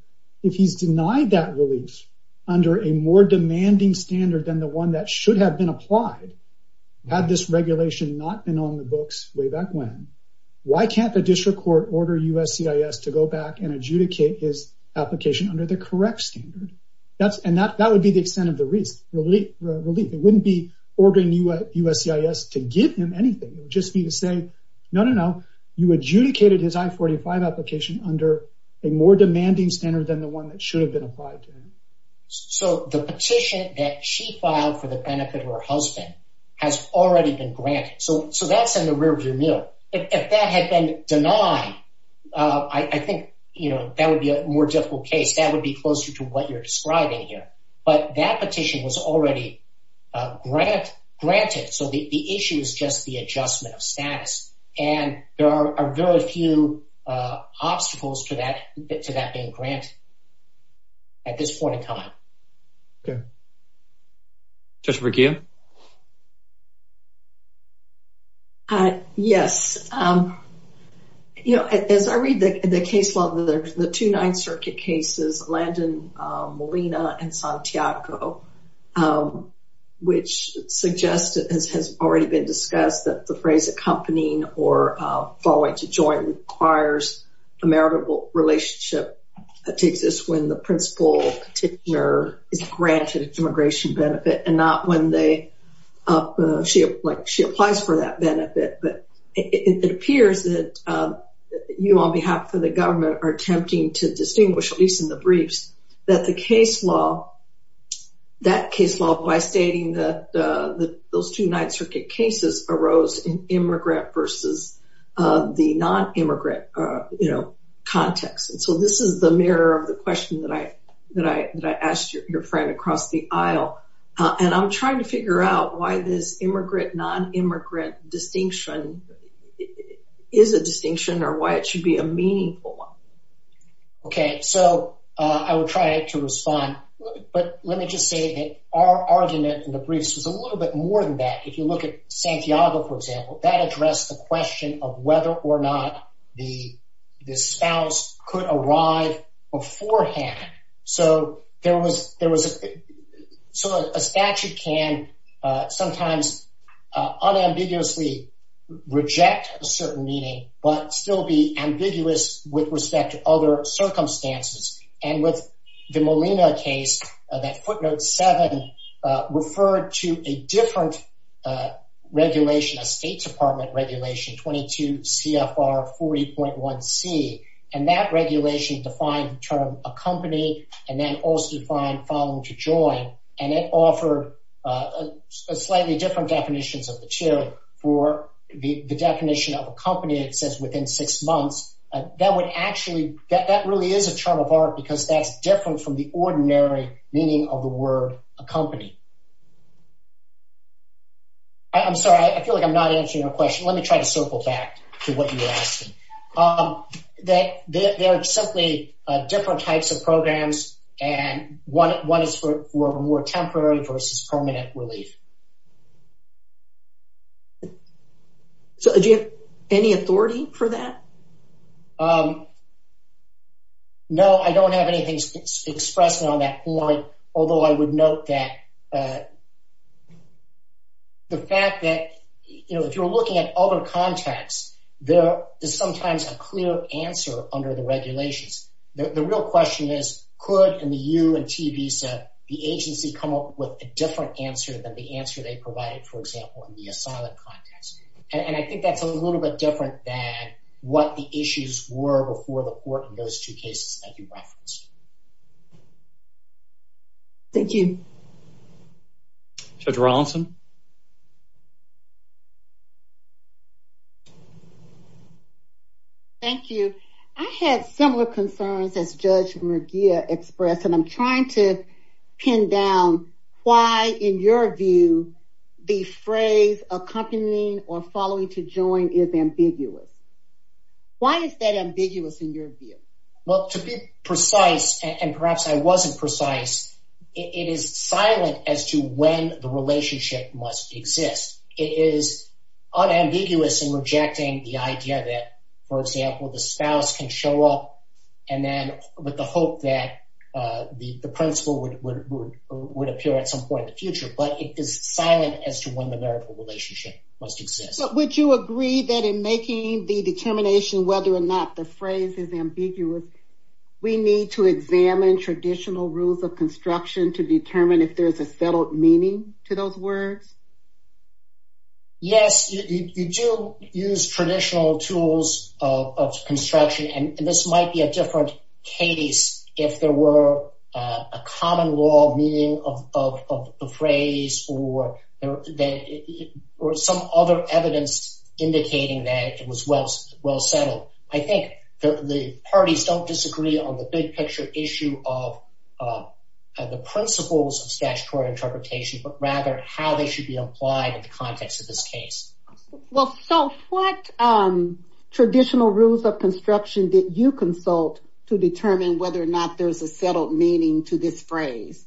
if he's denied that relief under a more demanding standard than the one that should have been applied, had this regulation not been on the books way back when, why can't the district court order USCIS to go back and adjudicate his application under the correct standard? That would be the extent of the relief. It wouldn't be ordering USCIS to give him anything. It would just be to say, no, no, no, you adjudicated his I-45 application under a more demanding standard than the one that should have been applied to him. So the petition that she filed for the benefit of her husband has already been granted, so that's in the rear view mirror. If that had been denied, I think, you know, that would be a more difficult case. That would be closer to what you're describing here, but that petition was already granted, so the issue is just the adjustment of status, and there are very few obstacles to that being granted at this point in time. Judge Verghia? Yes. You know, as I read the case law, the two Ninth Circuit cases, Landon Molina and Santiago, which suggest, as has already been discussed, that the phrase accompanying or following to join requires a maritable relationship to exist when the principal petitioner is granted a demigration benefit and not when she applies for that benefit. But it appears that you, on behalf of the government, are attempting to distinguish, at least in the briefs, that the case law, that case law by stating that those two Ninth Circuit cases arose in immigrant versus the non-immigrant, you know, context. And so this is the mirror of the question that I asked your friend across the aisle, and I'm trying to figure out why this immigrant, non-immigrant distinction is a distinction or why it should be a meaningful one. Okay, so I will try to respond, but let me just say that our argument in the briefs was a little bit more than that. If you look at Santiago, for example, that addressed the question of whether or not the spouse could arrive beforehand. So there was, there was, so a statute can sometimes unambiguously reject a certain meaning but still be ambiguous with respect to other circumstances. And with the Molina case, that footnote 7 referred to a different regulation, a State Department regulation, 22 CFR 40.1C, and that regulation defined the term accompanying and then also defined following to join, and it offered slightly different definitions of the two. For the definition of accompany, it says within six months. That would actually, that really is a term of art because that's different from the ordinary meaning of the word accompany. I'm sorry, I feel like I'm not answering your question. Let me try to circle back to what you were asking. There are simply different types of programs, and one is for more temporary versus permanent relief. So do you have any authority for that? No, I don't have anything expressed on that point, although I would note that the fact that, you know, if you're looking at other contexts, there is sometimes a clear answer under the regulations. The real question is, could, in the U and T visa, the agency come up with a different answer than the answer they provided, for example, in the asylum context? And I think that's a little bit different than what the issues were before the court in those two cases that you referenced. Thank you. Judge Rawlinson. Thank you. I had similar concerns as Judge Murguia expressed, and I'm trying to pin down why, in your view, the phrase accompanying or following to join is ambiguous. Why is that ambiguous in your view? Well, to be precise, and perhaps I wasn't precise, it is silent as to when the relationship must exist. It is unambiguous in rejecting the idea that, for example, the spouse can show up and then with the hope that the principal would appear at some point in the future, but it is silent as to when the marital relationship must exist. Would you agree that in making the determination whether or not the phrase is ambiguous, we need to examine traditional rules of construction to determine if there's a settled meaning to those words? Yes, you do use traditional tools of construction, and this might be a different case if there were a common law meaning of the phrase or some other evidence indicating that it was well settled. I think the parties don't disagree on the big picture issue of the principles of statutory interpretation, but rather how they should be applied in the context of this case. Well, so what traditional rules of construction did you consult to determine whether or not there's a settled meaning to this phrase?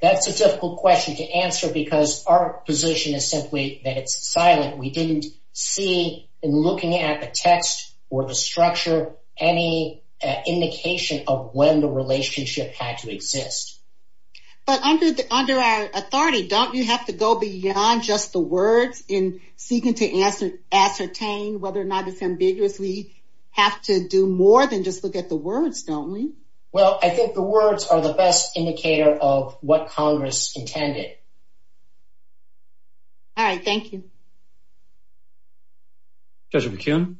That's a difficult question to answer because our position is simply that it's silent. We didn't see, in looking at the text or the structure, any indication of when the relationship had to exist. But under our authority, don't you have to go beyond just the words in seeking to ascertain whether or not it's ambiguous? We have to do more than just look at the words, don't we? Well, I think the words are the best indicator of what Congress intended. All right, thank you. Judge McKeon?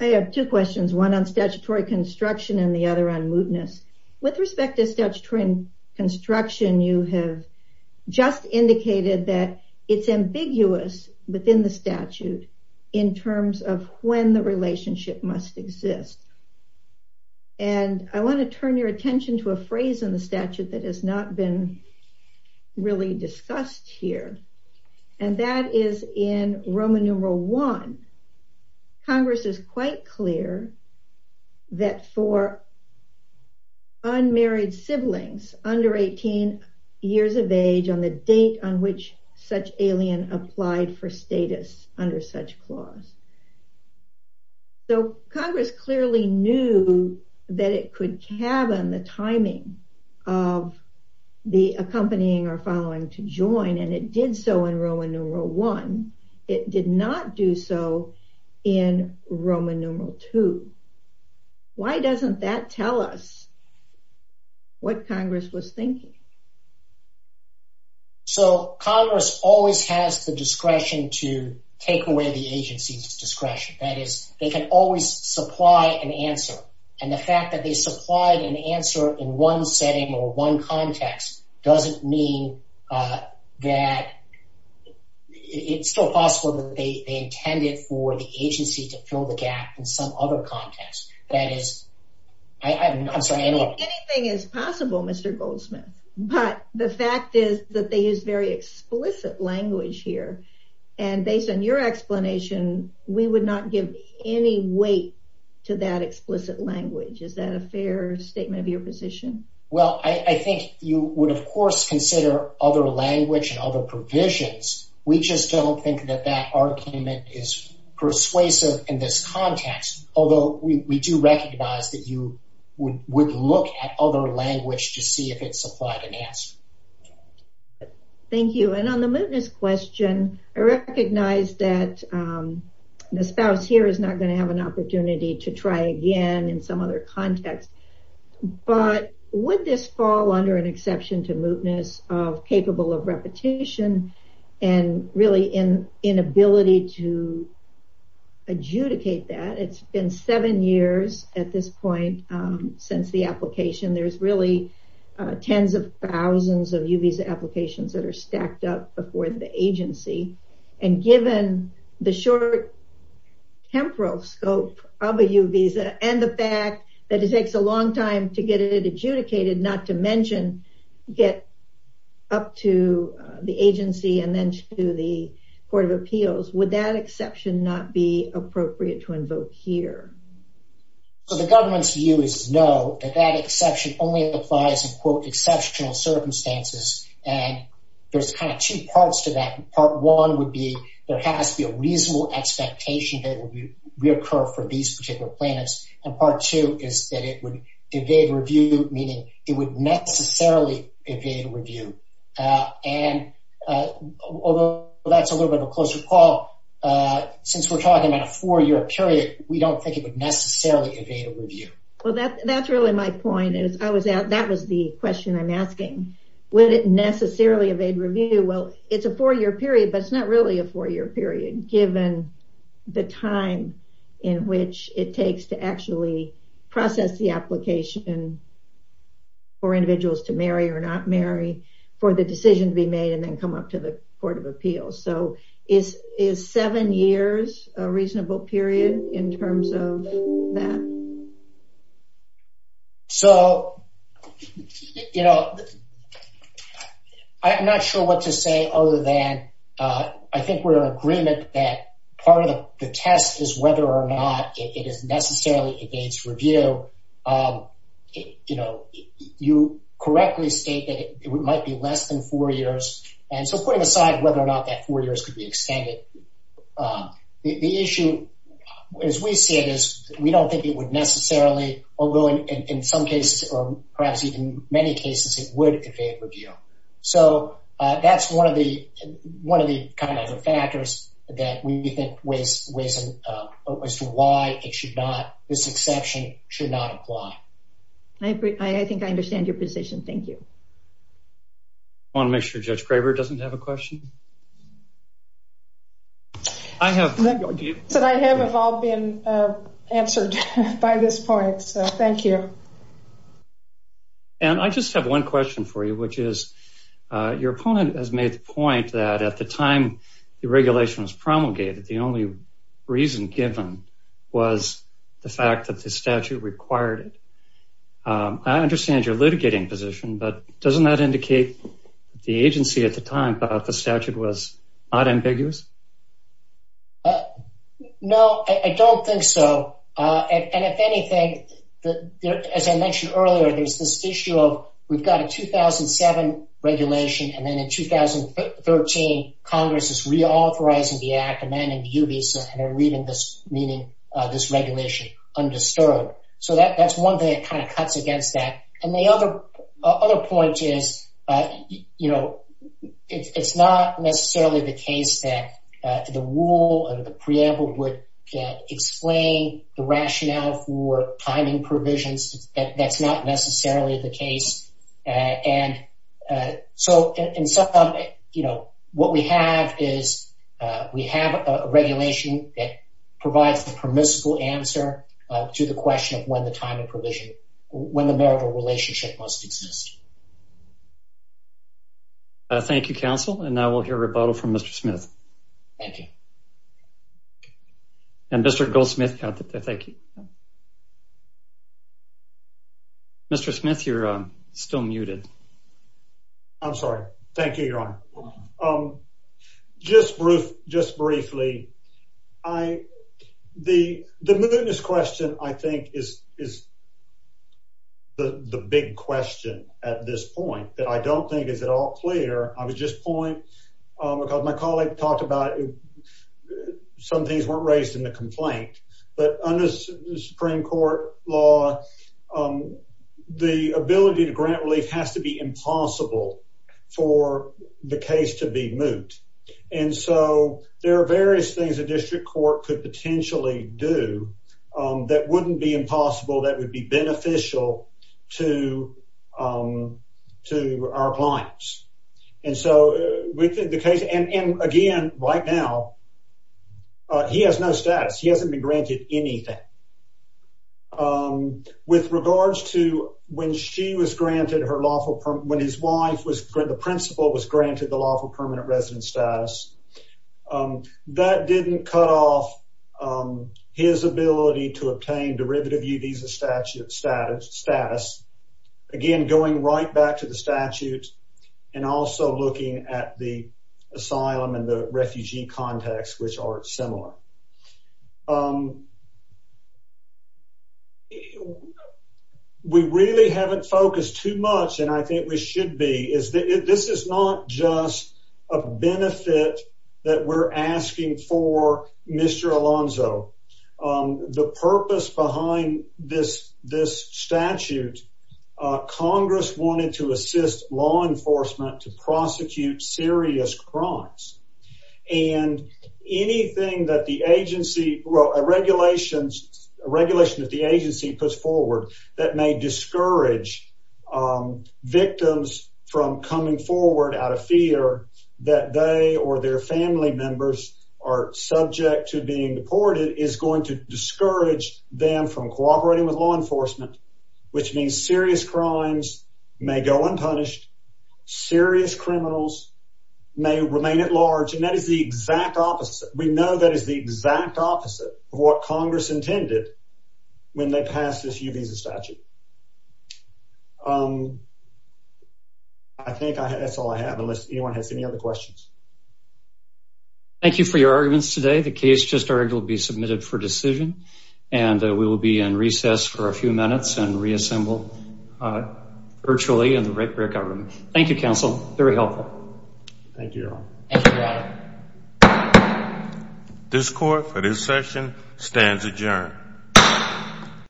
I have two questions, one on statutory construction and the other on mootness. With respect to statutory construction, you have just indicated that it's ambiguous within the statute in terms of when the relationship must exist. And I want to turn your attention to a phrase in the statute that has not been really discussed here, and that is in Roman numeral I. Congress is quite clear that for unmarried siblings under 18 years of age on the date on which such alien applied for status under such clause. So, Congress clearly knew that it could cabin the timing of the accompanying or following to join, and it did so in Roman numeral I. It did not do so in Roman numeral II. Why doesn't that tell us what Congress was thinking? So, Congress always has the discretion to take away the agency's discretion. That is, they can always supply an answer, and the fact that they supplied an answer in one setting or one context doesn't mean that it's still possible that they intended for the agency to fill the gap in some other context. That is, I'm sorry. Anything is possible, Mr. Goldsmith, but the fact is that they use very explicit language here, and based on your explanation, we would not give any weight to that explicit language. Is that a fair statement of your position? Well, I think you would, of course, consider other language and other provisions. We just don't think that that you would look at other language to see if it supplied an answer. Thank you, and on the mootness question, I recognize that the spouse here is not going to have an opportunity to try again in some other context, but would this fall under an exception to mootness of capable of repetition and really inability to adjudicate that? It's been seven years at this point since the application. There's really tens of thousands of U visa applications that are stacked up before the agency, and given the short temporal scope of a U visa and the fact that it takes a long time to get it adjudicated, not to mention get up to the agency and then to the court of appeals, would that exception not be appropriate to invoke here? So the government's view is no, that that exception only applies in quote exceptional circumstances, and there's kind of two parts to that. Part one would be there has to be a reasonable expectation that it will reoccur for these particular plaintiffs, and part two is that it would evade review, meaning it would necessarily evade review, and although that's a little bit of a closer call, since we're talking about a four-year period, we don't think it would necessarily evade a review. Well, that's really my point. That was the question I'm asking. Would it necessarily evade review? Well, it's a four-year period, but it's not really a four-year period given the time in which it takes to actually process the application for individuals to marry or not marry for the decision to be made and then come up to the court of appeals. So is seven years a reasonable period in terms of that? So, you know, I'm not sure what to say other than I think we're in agreement that part of the test is whether or not it is necessarily evades review. You know, you correctly state that it might be less than four years, and so putting aside whether or not that four years could be extended, the issue as we see it is we don't think it would necessarily, although in some cases or perhaps even many cases, it would evade review. So that's one of the kind of factors that we think was to why it should not, this exception should not apply. I think I understand your position. Thank you. I want to make sure Judge Graber doesn't have a question. I have. I haven't all been answered by this point, so thank you. And I just have one question for you, which is your opponent has made the point that at the time the regulation was promulgated, the only reason given was the fact that the statute required it. I understand your litigating position, but doesn't that indicate the agency at the time about the statute was not ambiguous? No, I don't think so. And if anything, as I mentioned earlier, there's this issue of we've got a 2007 regulation, and then in 2013, Congress is reauthorizing the act, amending the UBISA, and they're leaving this, meaning this regulation undisturbed. So that's one thing that kind of cuts against that. And the other point is it's not necessarily the case that the rule or the preamble would explain the rationale for timing provisions. That's not necessarily the case. And so, what we have is we have a regulation that provides the permissible answer to the question of when the time of provision, when the marital relationship must exist. Thank you, counsel, and I will hear rebuttal from Mr. Smith. Thank you. And Mr. Goldsmith. Mr. Smith, you're still muted. I'm sorry. Thank you, Your Honor. Just briefly, the mootness question, I think, is the big question at this point that I don't think is at all clear. I would just point, because my colleague talked about some things weren't raised in the complaint, but under Supreme Court law, the ability to grant relief has to be impossible for the case to be moot. And so, there are various things a district court could potentially do that wouldn't be impossible, that would be beneficial to our clients. And so, with the case, and again, right now, he has no status. He hasn't been granted anything. With regards to when she was granted her lawful, when his wife, the principal was granted the lawful permanent residence status, that didn't cut off his ability to obtain derivative visa status. Again, going right back to the statute, and also looking at the asylum and the refugee context, which are similar. We really haven't focused too much, and I think we should be, this is not just a benefit that we're asking for, Mr. Alonzo. The purpose behind this statute, Congress wanted to assist law enforcement to prosecute serious crimes. And anything that a regulation that the agency puts forward that may discourage victims from coming forward out of fear that they or their family members are subject to being deported is going to discourage them from cooperating with law enforcement, which means serious crimes may go unpunished, serious criminals may remain at large, and that is the exact opposite. We know that is the exact opposite of what Congress intended when they passed this new visa statute. I think that's all I have, unless anyone has any other questions. Thank you for your arguments today. The case just started to be submitted for decision, and we will be in recess for a few minutes and reassemble virtually in the right way of government. Thank you, counsel. Very helpful. Thank you, Your Honor. This Court, for this session, stands adjourned.